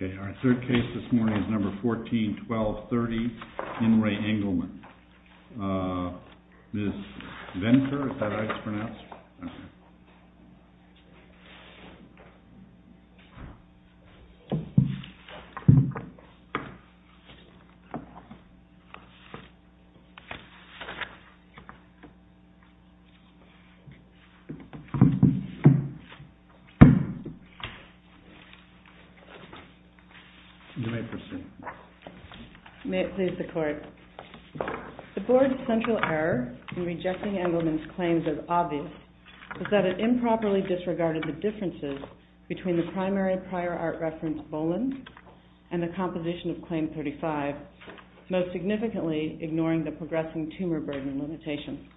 Okay, our third case this morning is number 14-12-30, In Re Engleman, Ms. Venker, is that it improperly disregarded the differences between the primary prior art reference, Bolen, and the composition of Claim 35, most significantly ignoring the progressing tumor burden limitation.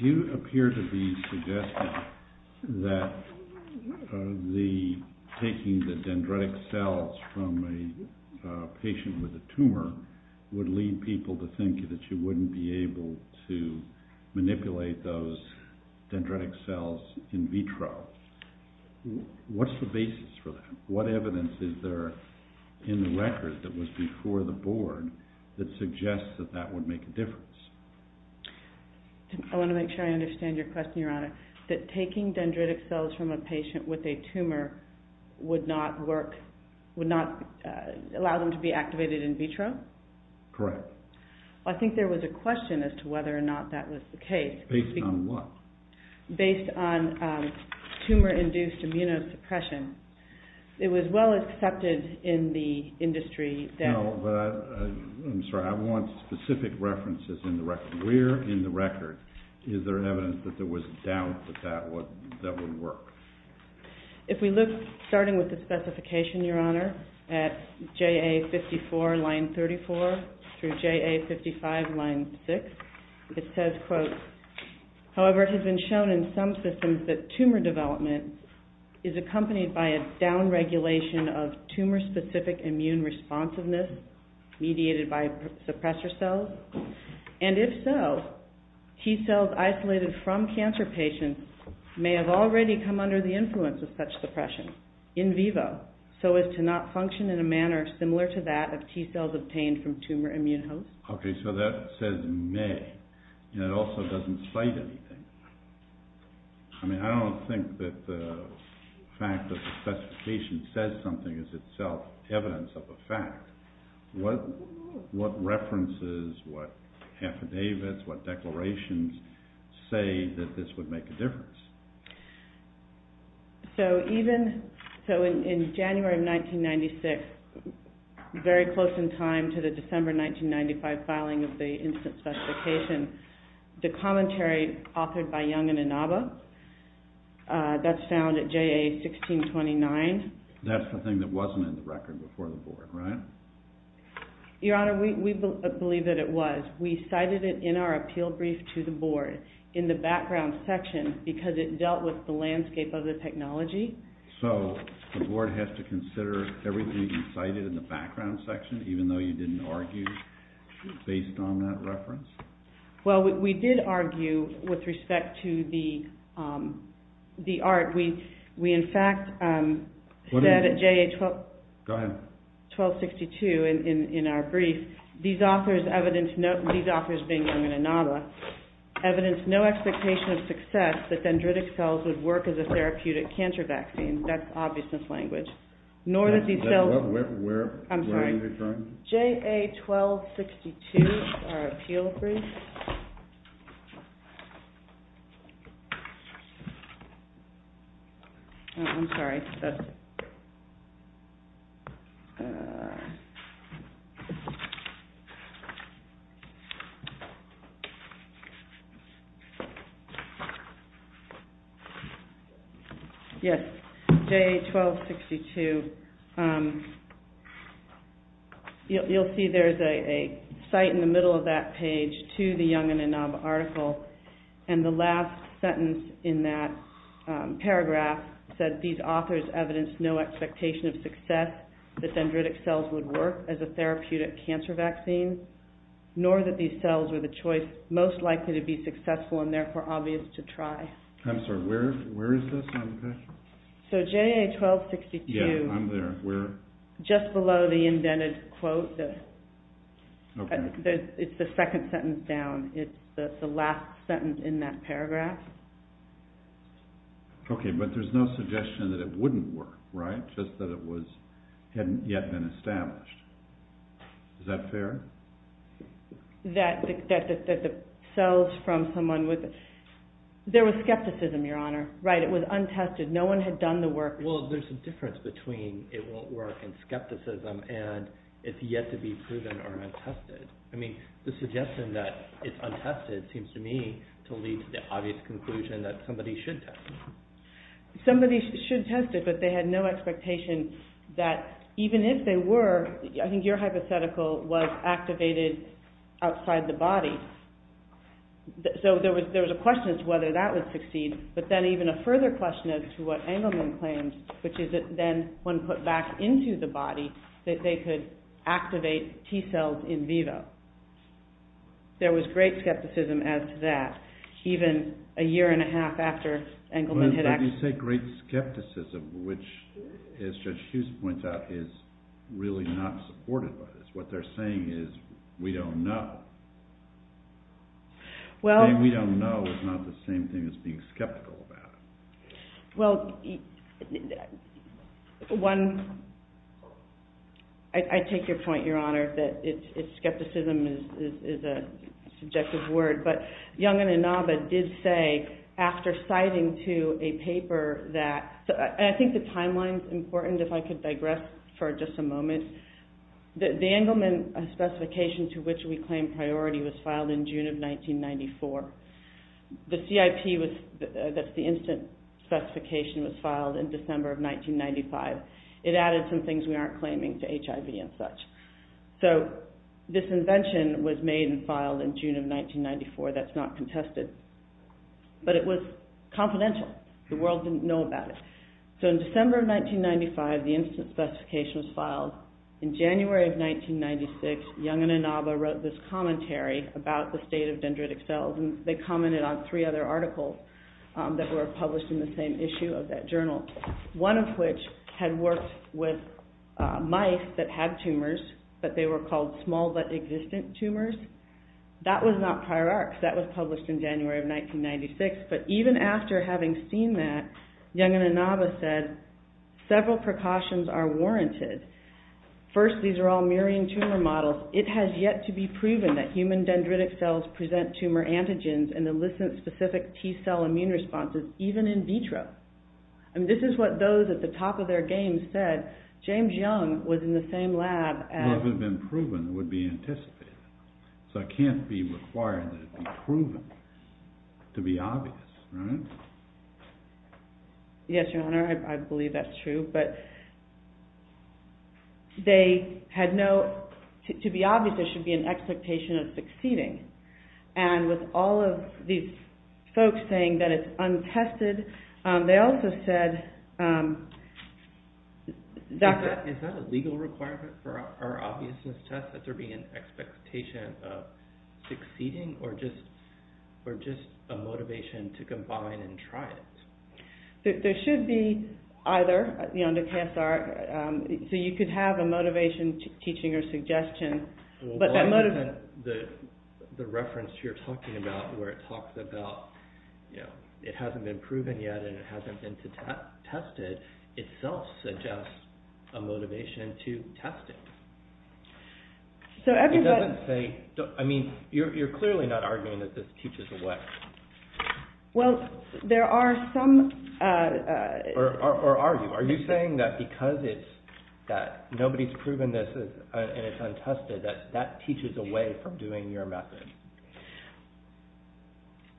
You appear to be suggesting that taking the dendritic cells from a patient with a tumor would lead people to think that you wouldn't be able to manipulate those dendritic cells in vitro. What's the basis for that? What evidence is there in the record that was before the board that suggests that that would make a difference? I want to make sure I understand your question, your honor. That taking dendritic cells from a patient with a tumor would not work, would not allow them to be activated in vitro? Correct. I think there was a question as to whether or not that was the case. Based on what? Based on tumor-induced immunosuppression. It was well accepted in the industry that... No, but I'm sorry, I want specific references in the record. Where in the record is there evidence that there was doubt that that would work? If we look, starting with the specification, your honor, at JA54, line 34, through JA55, line 6, it says, quote, in vivo, so as to not function in a manner similar to that of T-cells obtained from tumor immune hosts. Okay, so that says may, and it also doesn't cite anything. I mean, I don't think that the fact that the specification says something is itself evidence of a fact. What references, what affidavits, what declarations say that this would make a difference? So in January of 1996, very close in time to the December 1995 filing of the instant specification, the commentary authored by Young and Inaba, that's found at JA1629. That's the thing that wasn't in the record before the board, right? Your honor, we believe that it was. We cited it in our appeal brief to the board, in the background section, because it dealt with the landscape of the technology. So the board has to consider everything you cited in the background section, even though you didn't argue based on that reference? Well, we did argue with respect to the art. We, in fact, said at JA1262 in our brief, these authors being Young and Inaba, evidence no expectation of success that dendritic cells would work as a therapeutic cancer vaccine. That's obvious in this language. Where are you referring to? JA1262, our appeal brief. I'm sorry. Yes, JA1262, you'll see there's a site in the middle of that page to the Young and Inaba article. And the last sentence in that paragraph said, these authors evidence no expectation of success that dendritic cells would work as a therapeutic cancer vaccine, nor that these cells were the choice most likely to be successful and therefore obvious to try. I'm sorry, where is this on the page? So JA1262, just below the indented quote, it's the second sentence down. It's the last sentence in that paragraph. Okay, but there's no suggestion that it wouldn't work, right? Just that it hadn't yet been established. Is that fair? That the cells from someone with, there was skepticism, Your Honor. Right, it was untested. No one had done the work. Well, there's a difference between it won't work and skepticism and it's yet to be proven or untested. I mean, the suggestion that it's untested seems to me to lead to the obvious conclusion that somebody should test it. Somebody should test it, but they had no expectation that even if they were, I think your hypothetical was activated outside the body. So there was a question as to whether that would succeed, but then even a further question as to what Engelman claims, which is that then when put back into the body, that they could activate T cells in vivo. There was great skepticism as to that, even a year and a half after Engelman had actually... But you say great skepticism, which, as Judge Hughes points out, is really not supported by this. What they're saying is, we don't know. Saying we don't know is not the same thing as being skeptical about it. Well, one... I take your point, Your Honor, that skepticism is a subjective word, but Young and Inaba did say, after citing to a paper that... I think the timeline's important, if I could digress for just a moment. The Engelman specification to which we claim priority was filed in June of 1994. The CIP, that's the instant specification, was filed in December of 1995. It added some things we aren't claiming to HIV and such. So this invention was made and filed in June of 1994. That's not contested, but it was confidential. The world didn't know about it. So in December of 1995, the instant specification was filed. In January of 1996, Young and Inaba wrote this commentary about the state of dendritic cells. They commented on three other articles that were published in the same issue of that journal, one of which had worked with mice that had tumors, but they were called small-but-existent tumors. That was not prior arcs. That was published in January of 1996, but even after having seen that, Young and Inaba said, several precautions are warranted. First, these are all mirroring tumor models. It has yet to be proven that human dendritic cells present tumor antigens and illicit specific T-cell immune responses, even in vitro. This is what those at the top of their game said. James Young was in the same lab as... Well, if it had been proven, it would be anticipated. So it can't be required that it be proven to be obvious, right? Yes, Your Honor, I believe that's true. But they had no... To be obvious, there should be an expectation of succeeding. And with all of these folks saying that it's untested, they also said... Is that a legal requirement for our obviousness test, that there be an expectation of succeeding, or just a motivation to combine and try it? There should be either. So you could have a motivation, teaching, or suggestion. The reference you're talking about, where it talks about it hasn't been proven yet and it hasn't been tested, itself suggests a motivation to test it. You're clearly not arguing that this teaches a weapon. Well, there are some... Or are you? Are you saying that because nobody's proven this and it's untested, that that teaches a way for doing your method?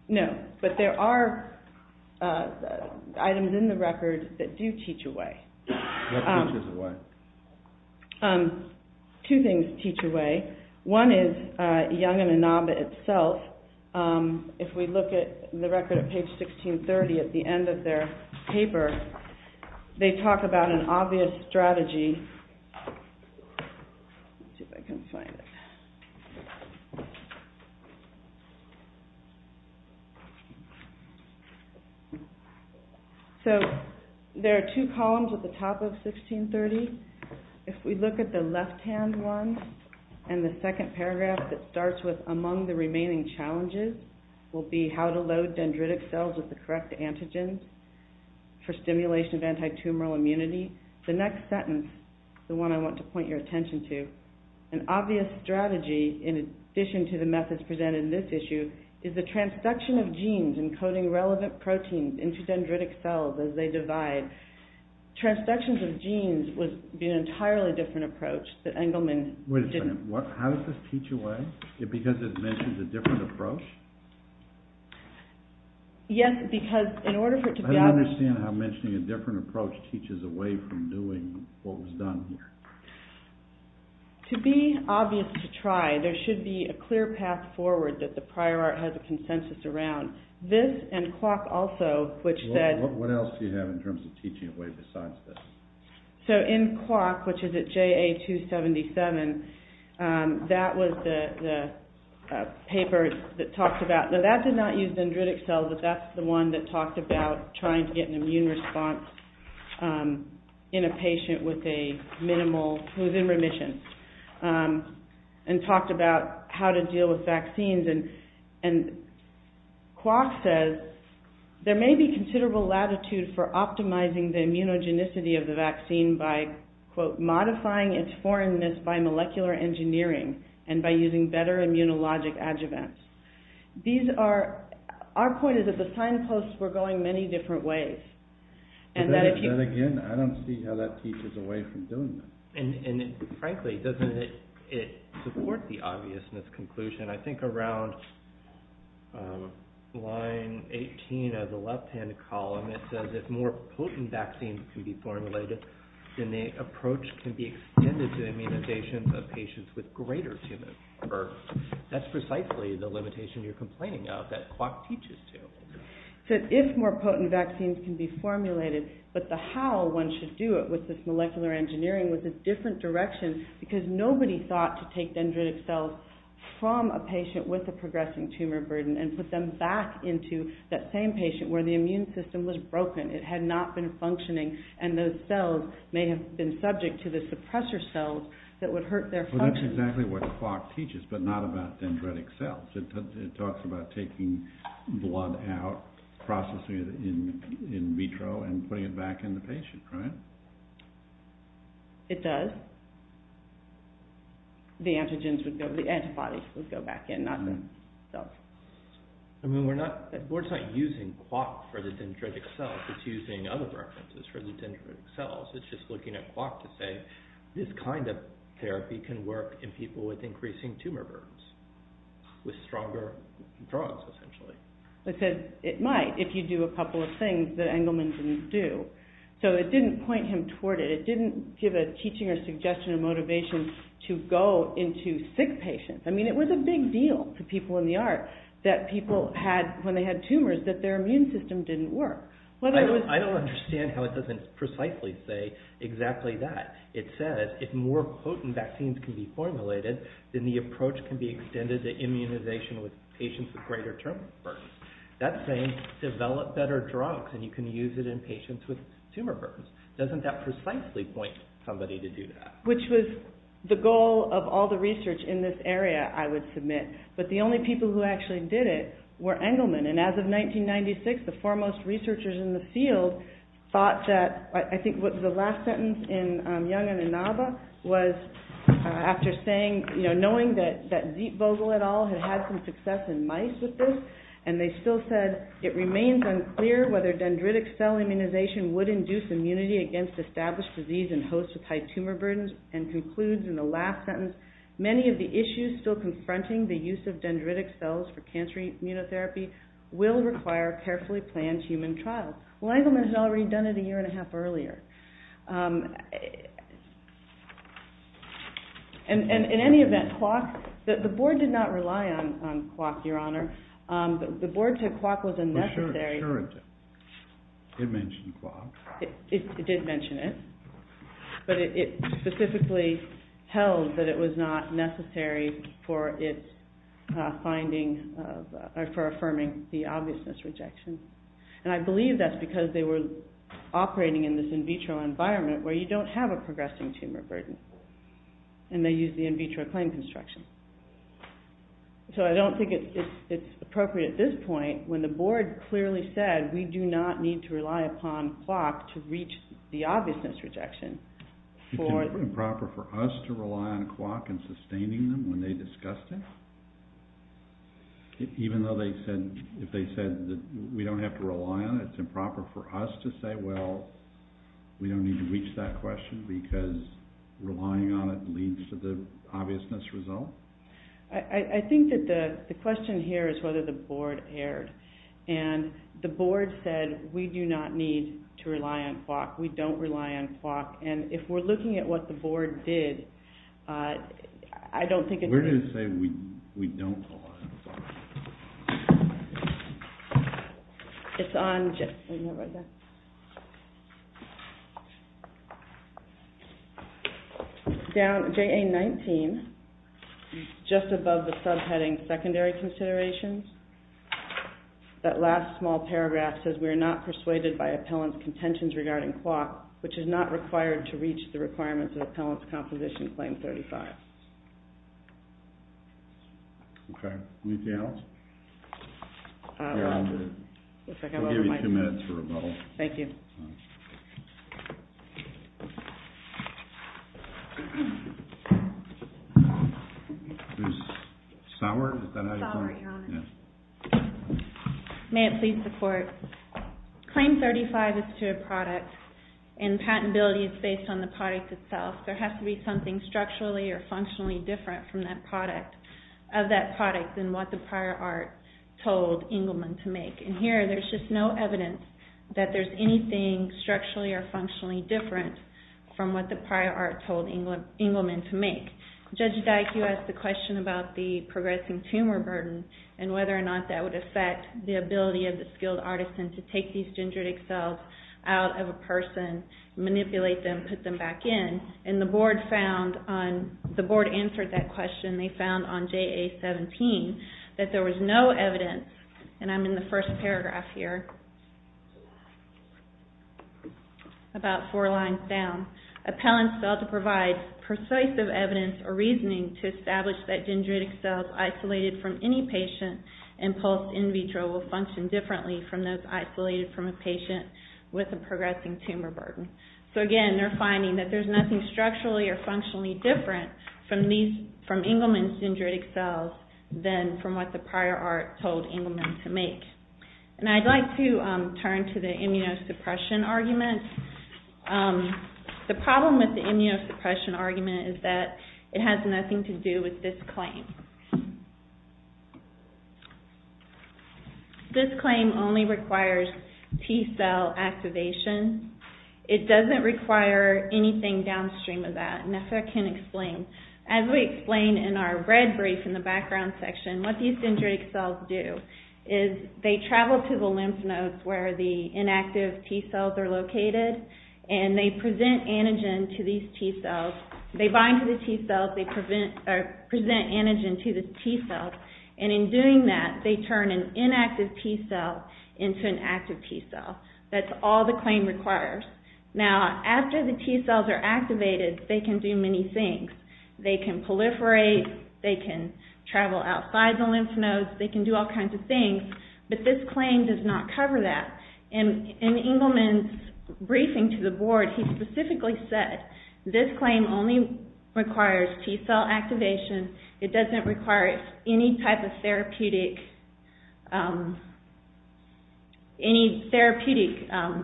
No, but there are items in the record that do teach a way. What teaches a way? Two things teach a way. One is Yangananaba itself. If we look at the record at page 1630, at the end of their paper, they talk about an obvious strategy. Let's see if I can find it. So there are two columns at the top of 1630. If we look at the left-hand one and the second paragraph that starts with, among the remaining challenges, will be how to load dendritic cells with the correct antigens for stimulation of antitumoral immunity. The next sentence, the one I want to point your attention to, an obvious strategy in addition to the methods presented in this issue, is the transduction of genes encoding relevant proteins into dendritic cells as they divide. Transduction of genes would be an entirely different approach that Engelman didn't... Wait a second. How does this teach a way? Because it mentions a different approach? Yes, because in order for it to be... I don't understand how mentioning a different approach teaches a way from doing what was done here. To be obvious to try, there should be a clear path forward that the prior art has a consensus around. This and Kwok also, which said... What else do you have in terms of teaching a way besides this? In Kwok, which is at JA277, that was the paper that talked about... That did not use dendritic cells, but that's the one that talked about trying to get an immune response in a patient with a minimal... Who's in remission and talked about how to deal with vaccines. Kwok says, there may be considerable latitude for optimizing the immunogenicity of the vaccine by modifying its foreignness by molecular engineering and by using better immunologic adjuvants. Our point is that the signposts were going many different ways. That again, I don't see how that teaches a way from doing that. Frankly, doesn't it support the obviousness conclusion? I think around line 18 of the left-hand column, it says, if more potent vaccines can be formulated, then the approach can be extended to immunizations of patients with greater tumor. That's precisely the limitation you're complaining of that Kwok teaches to. It says, if more potent vaccines can be formulated, but the how one should do it with this molecular engineering with a different direction, because nobody thought to take dendritic cells from a patient with a progressing tumor burden and put them back into that same patient where the immune system was broken. It had not been functioning, and those cells may have been subject to the suppressor cells that would hurt their function. That's exactly what Kwok teaches, but not about dendritic cells. It talks about taking blood out, processing it in vitro, and putting it back in the patient, right? It does. The antibodies would go back in, not the cells. We're not using Kwok for the dendritic cells. It's using other references for the dendritic cells. It's just looking at Kwok to say, this kind of therapy can work in people with increasing tumor burdens, with stronger drugs, essentially. It says it might if you do a couple of things that Engelman didn't do. So it didn't point him toward it. It didn't give a teaching or suggestion or motivation to go into sick patients. I mean, it was a big deal to people in the art that people had, when they had tumors, that their immune system didn't work. I don't understand how it doesn't precisely say exactly that. It says if more potent vaccines can be formulated, then the approach can be extended to immunization with patients with greater tumor burdens. That's saying develop better drugs, and you can use it in patients with tumor burdens. Doesn't that precisely point somebody to do that? Which was the goal of all the research in this area, I would submit. But the only people who actually did it were Engelman. And as of 1996, the foremost researchers in the field thought that, I think the last sentence in Young and Inaba was after saying, knowing that Zietvogel et al. had had some success in mice with this, and they still said, it remains unclear whether dendritic cell immunization would induce immunity against established disease and hosts with high tumor burdens. And concludes in the last sentence, many of the issues still confronting the use of dendritic cells for cancer immunotherapy will require carefully planned human trials. Well, Engelman had already done it a year and a half earlier. In any event, the board did not rely on quark, your honor. The board said quark was unnecessary. Sure it did. It mentioned quark. It did mention it. But it specifically held that it was not necessary for its finding, for affirming the obviousness rejection. And I believe that's because they were operating in this in vitro environment where you don't have a progressing tumor burden. And they used the in vitro claim construction. So I don't think it's appropriate at this point when the board clearly said we do not need to rely upon quark to reach the obviousness rejection. It's improper for us to rely on quark in sustaining them when they discussed it? Even though they said, if they said that we don't have to rely on it, it's improper for us to say, well, we don't need to reach that question because relying on it leads to the obviousness result? I think that the question here is whether the board erred. And the board said we do not need to rely on quark. We don't rely on quark. And if we're looking at what the board did, I don't think it's We're going to say we don't rely on quark. It's on JA-19, just above the subheading secondary considerations. That last small paragraph says we are not persuaded by appellant's contentions regarding quark, which is not required to reach the requirements of the appellant's composition claim 35. Okay. Anything else? I'll give you two minutes for rebuttal. Thank you. May it please the court. Claim 35 is to a product and patentability is based on the product itself. There has to be something structurally or functionally different from that product of that product than what the prior art told Engelman to make. And here there's just no evidence that there's anything structurally or functionally different from what the prior art told Engelman to make. Judge Dyke, you asked the question about the progressing tumor burden and whether or not that would affect the ability of the skilled artisan to take these dendritic cells out of a person, manipulate them, put them back in. And the board answered that question. They found on JA-17 that there was no evidence, and I'm in the first paragraph here, about four lines down. Appellant's cell to provide persuasive evidence or reasoning to establish that dendritic cells isolated from any patient and post-in vitro will function differently from those isolated from a patient with a progressing tumor burden. So again, they're finding that there's nothing structurally or functionally different from Engelman's dendritic cells than from what the prior art told Engelman to make. And I'd like to turn to the immunosuppression argument. The problem with the immunosuppression argument is that it has nothing to do with this claim. This claim only requires T cell activation. It doesn't require anything downstream of that. And if I can explain, as we explain in our red brief in the background section, what these dendritic cells do is they travel to the lymph nodes where the inactive T cells are located and they bind to the T cells, they present antigen to the T cells, and in doing that, they turn an inactive T cell into an active T cell. That's all the claim requires. Now, after the T cells are activated, they can do many things. They can proliferate, they can travel outside the lymph nodes, they can do all kinds of things, but this claim does not cover that. In Engelman's briefing to the board, he specifically said this claim only requires T cell activation. It doesn't require any type of therapeutic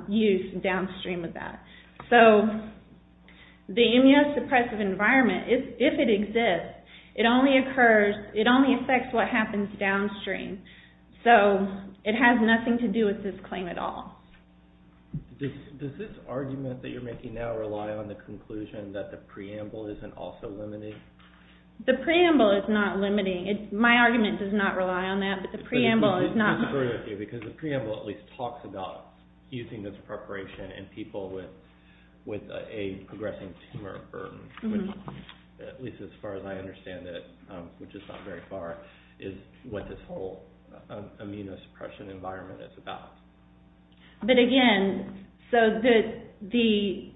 use downstream of that. So, the immunosuppressive environment, if it exists, it only affects what happens downstream. So, it has nothing to do with this claim at all. Does this argument that you're making now rely on the conclusion that the preamble isn't also limited? The preamble is not limiting. My argument does not rely on that, but the preamble is not. Because the preamble at least talks about using this preparation in people with a progressing tumor burden, at least as far as I understand it, which is not very far, is what this whole immunosuppression environment is about. But again, so the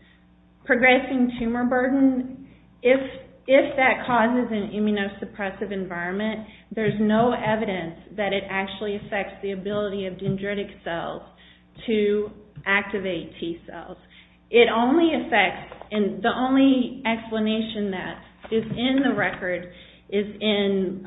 progressing tumor burden, if that causes an immunosuppressive environment, there's no evidence that it actually affects the ability of dendritic cells to activate T cells. It only affects, and the only explanation that is in the record is in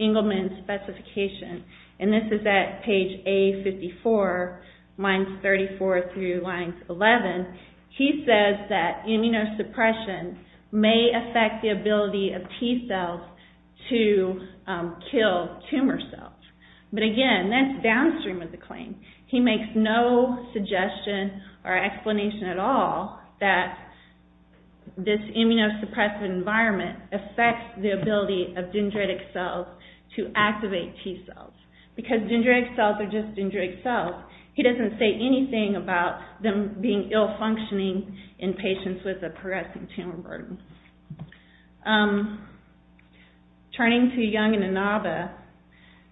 Engelman's specification. And this is at page A54, lines 34 through line 11. He says that immunosuppression may affect the ability of T cells to kill tumor cells. But again, that's downstream of the claim. He makes no suggestion or explanation at all that this immunosuppressive environment affects the ability of dendritic cells to activate T cells. Because dendritic cells are just dendritic cells. He doesn't say anything about them being ill-functioning in patients with a progressing tumor burden. Turning to Young and Inaba,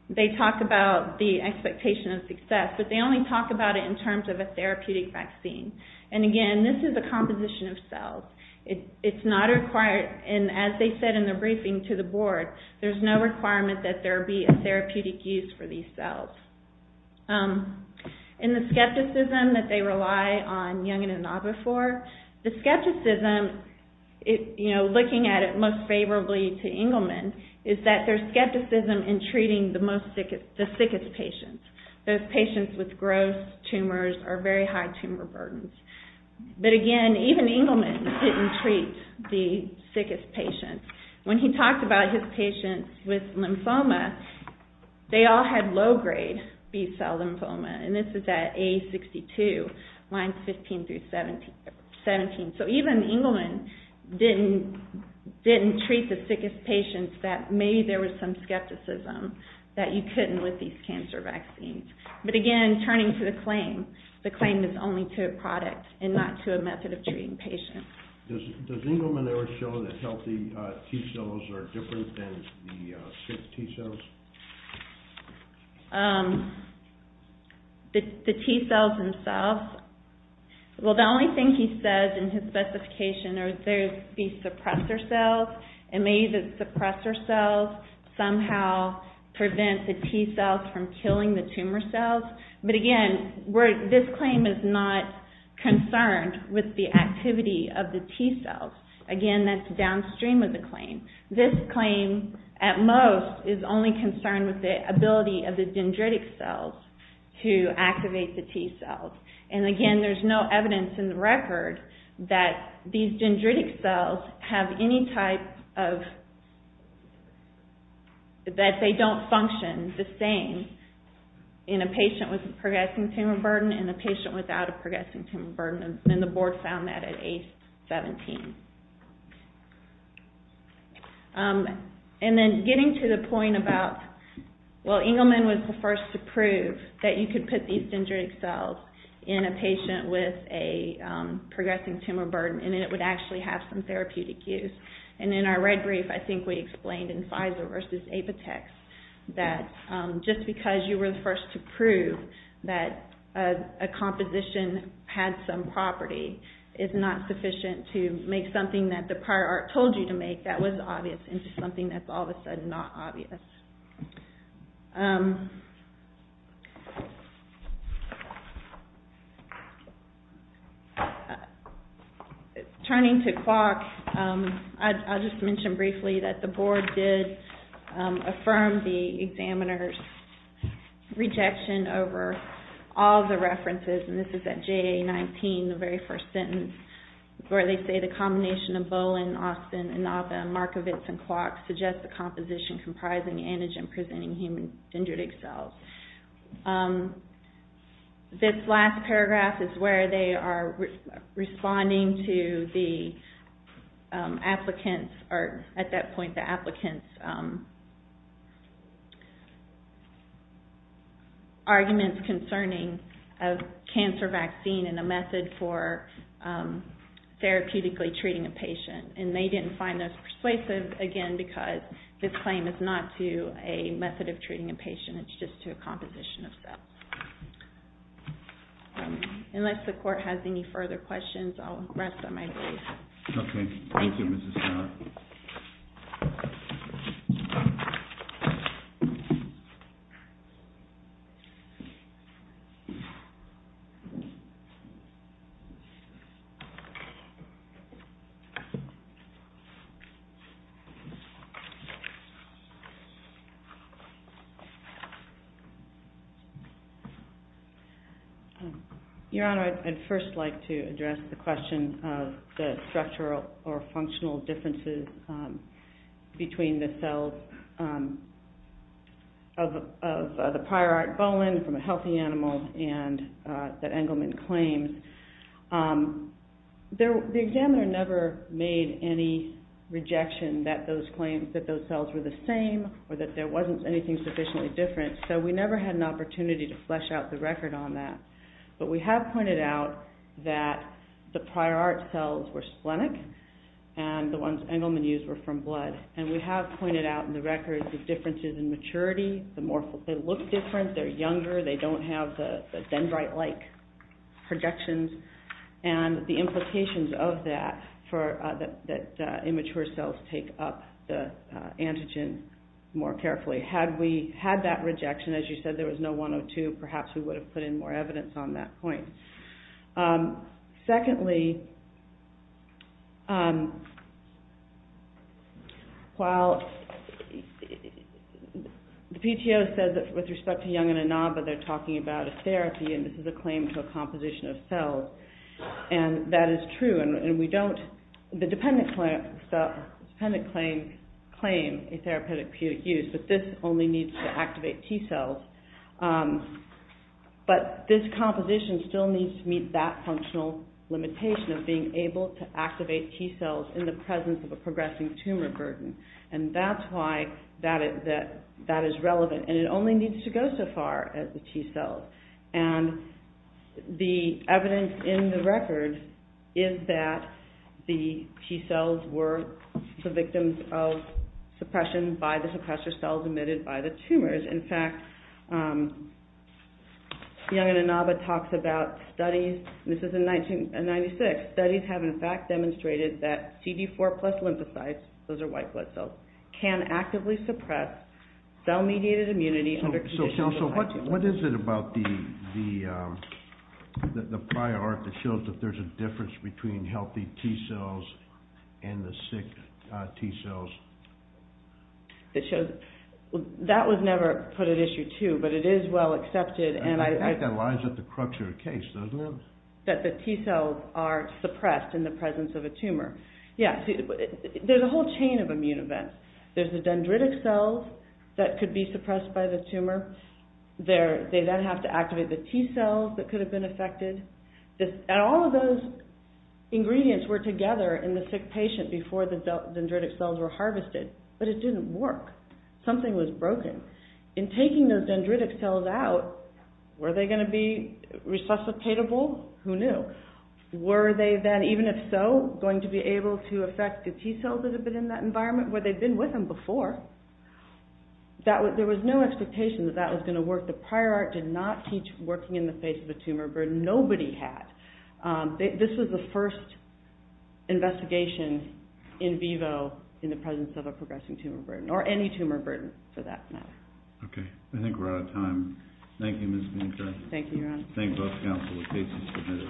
they talk about the expectation of success, but they only talk about it in terms of a therapeutic vaccine. And again, this is a composition of cells. It's not required, and as they said in the briefing to the board, there's no requirement that there be a therapeutic use for these cells. In the skepticism that they rely on Young and Inaba for, the skepticism, looking at it most favorably to Engelman, is that there's skepticism in treating the sickest patients. Those patients with gross tumors or very high tumor burdens. But again, even Engelman didn't treat the sickest patients. When he talked about his patients with lymphoma, they all had low-grade B cell lymphoma. And this is at A62, lines 15 through 17. So even Engelman didn't treat the sickest patients that maybe there was some skepticism that you couldn't with these cancer vaccines. But again, turning to the claim, the claim is only to a product and not to a method of treating patients. Does Engelman ever show that healthy T-cells are different than the sick T-cells? The T-cells themselves? Well, the only thing he says in his specification are the suppressor cells, and maybe the suppressor cells somehow prevent the T-cells from killing the tumor cells. But again, this claim is not concerned with the activity of the T-cells. Again, that's downstream of the claim. This claim, at most, is only concerned with the ability of the dendritic cells to activate the T-cells. And again, there's no evidence in the record that these dendritic cells have any type of... that they don't function the same in a patient with a progressing tumor burden and a patient without a progressing tumor burden. And the board found that at A17. And then getting to the point about... well, Engelman was the first to prove that you could put these dendritic cells in a patient with a progressing tumor burden and that it would actually have some therapeutic use. And in our red brief, I think we explained in Pfizer versus Apotex that just because you were the first to prove that a composition had some property is not sufficient to make something that the prior art told you to make that was obvious into something that's all of a sudden not obvious. Turning to CWOC, I'll just mention briefly that the board did affirm the examiner's rejection over all the references. And this is at JA19, the very first sentence, where they say, the combination of Bolin, Austin, Inova, Markovits, and CWOC suggests a composition comprising antigen-presenting human dendritic cells. This last paragraph is where they are responding to the applicants... cancer vaccine in a method for therapeutically treating a patient. And they didn't find this persuasive, again, because this claim is not to a method of treating a patient. It's just to a composition of cells. Unless the court has any further questions, I'll rest on my leave. Okay. Thank you, Mrs. Scott. Your Honor, I'd first like to address the question of the structural or functional differences between the cells of the prior art Bolin from a healthy animal and that Engelman claims. The examiner never made any rejection that those claims, that those cells were the same or that there wasn't anything sufficiently different, so we never had an opportunity to flesh out the record on that. But we have pointed out that the prior art cells were splenic and the ones Engelman used were from blood. And we have pointed out in the record the differences in maturity. They look different, they're younger, they don't have the dendrite-like projections, and the implications of that for the immature cells take up the antigen more carefully. Had we had that rejection, as you said, there was no 102, perhaps we would have put in more evidence on that point. Secondly, while the PTO says that with respect to Young and Inaba, they're talking about a therapy and this is a claim to a composition of cells, and that is true, and we don't, the dependent claims claim a therapeutic use, but this only needs to activate T-cells. But this composition still needs to meet that functional limitation of being able to activate T-cells in the presence of a progressing tumor burden. And that's why that is relevant, and it only needs to go so far as the T-cells. And the evidence in the record is that the T-cells were the victims of suppression by the suppressor cells emitted by the tumors. In fact, Young and Inaba talks about studies, and this is in 1996, studies have in fact demonstrated that CD4 plus lymphocytes, those are white blood cells, can actively suppress cell-mediated immunity under conditions of high T-cells. So what is it about the prior art that shows that there's a difference between healthy T-cells and the sick T-cells? That was never put at issue too, but it is well accepted. And I think that lies at the crux of the case, doesn't it? That the T-cells are suppressed in the presence of a tumor. Yeah, see, there's a whole chain of immune events. There's the dendritic cells that could be suppressed by the tumor. They then have to activate the T-cells that could have been affected. And all of those ingredients were together in the sick patient before the dendritic cells were harvested, but it didn't work. Something was broken. In taking those dendritic cells out, were they going to be resuscitatable? Who knew? Were they then, even if so, going to be able to affect the T-cells that had been in that environment where they'd been with them before? There was no expectation that that was going to work. The prior art did not teach working in the face of a tumor burden. Nobody had. This was the first investigation in vivo in the presence of a progressing tumor burden, or any tumor burden, for that matter. Okay, I think we're out of time. Thank you, Ms. Minkoff. Thank you, Ron. Thank both counsel. The case is submitted.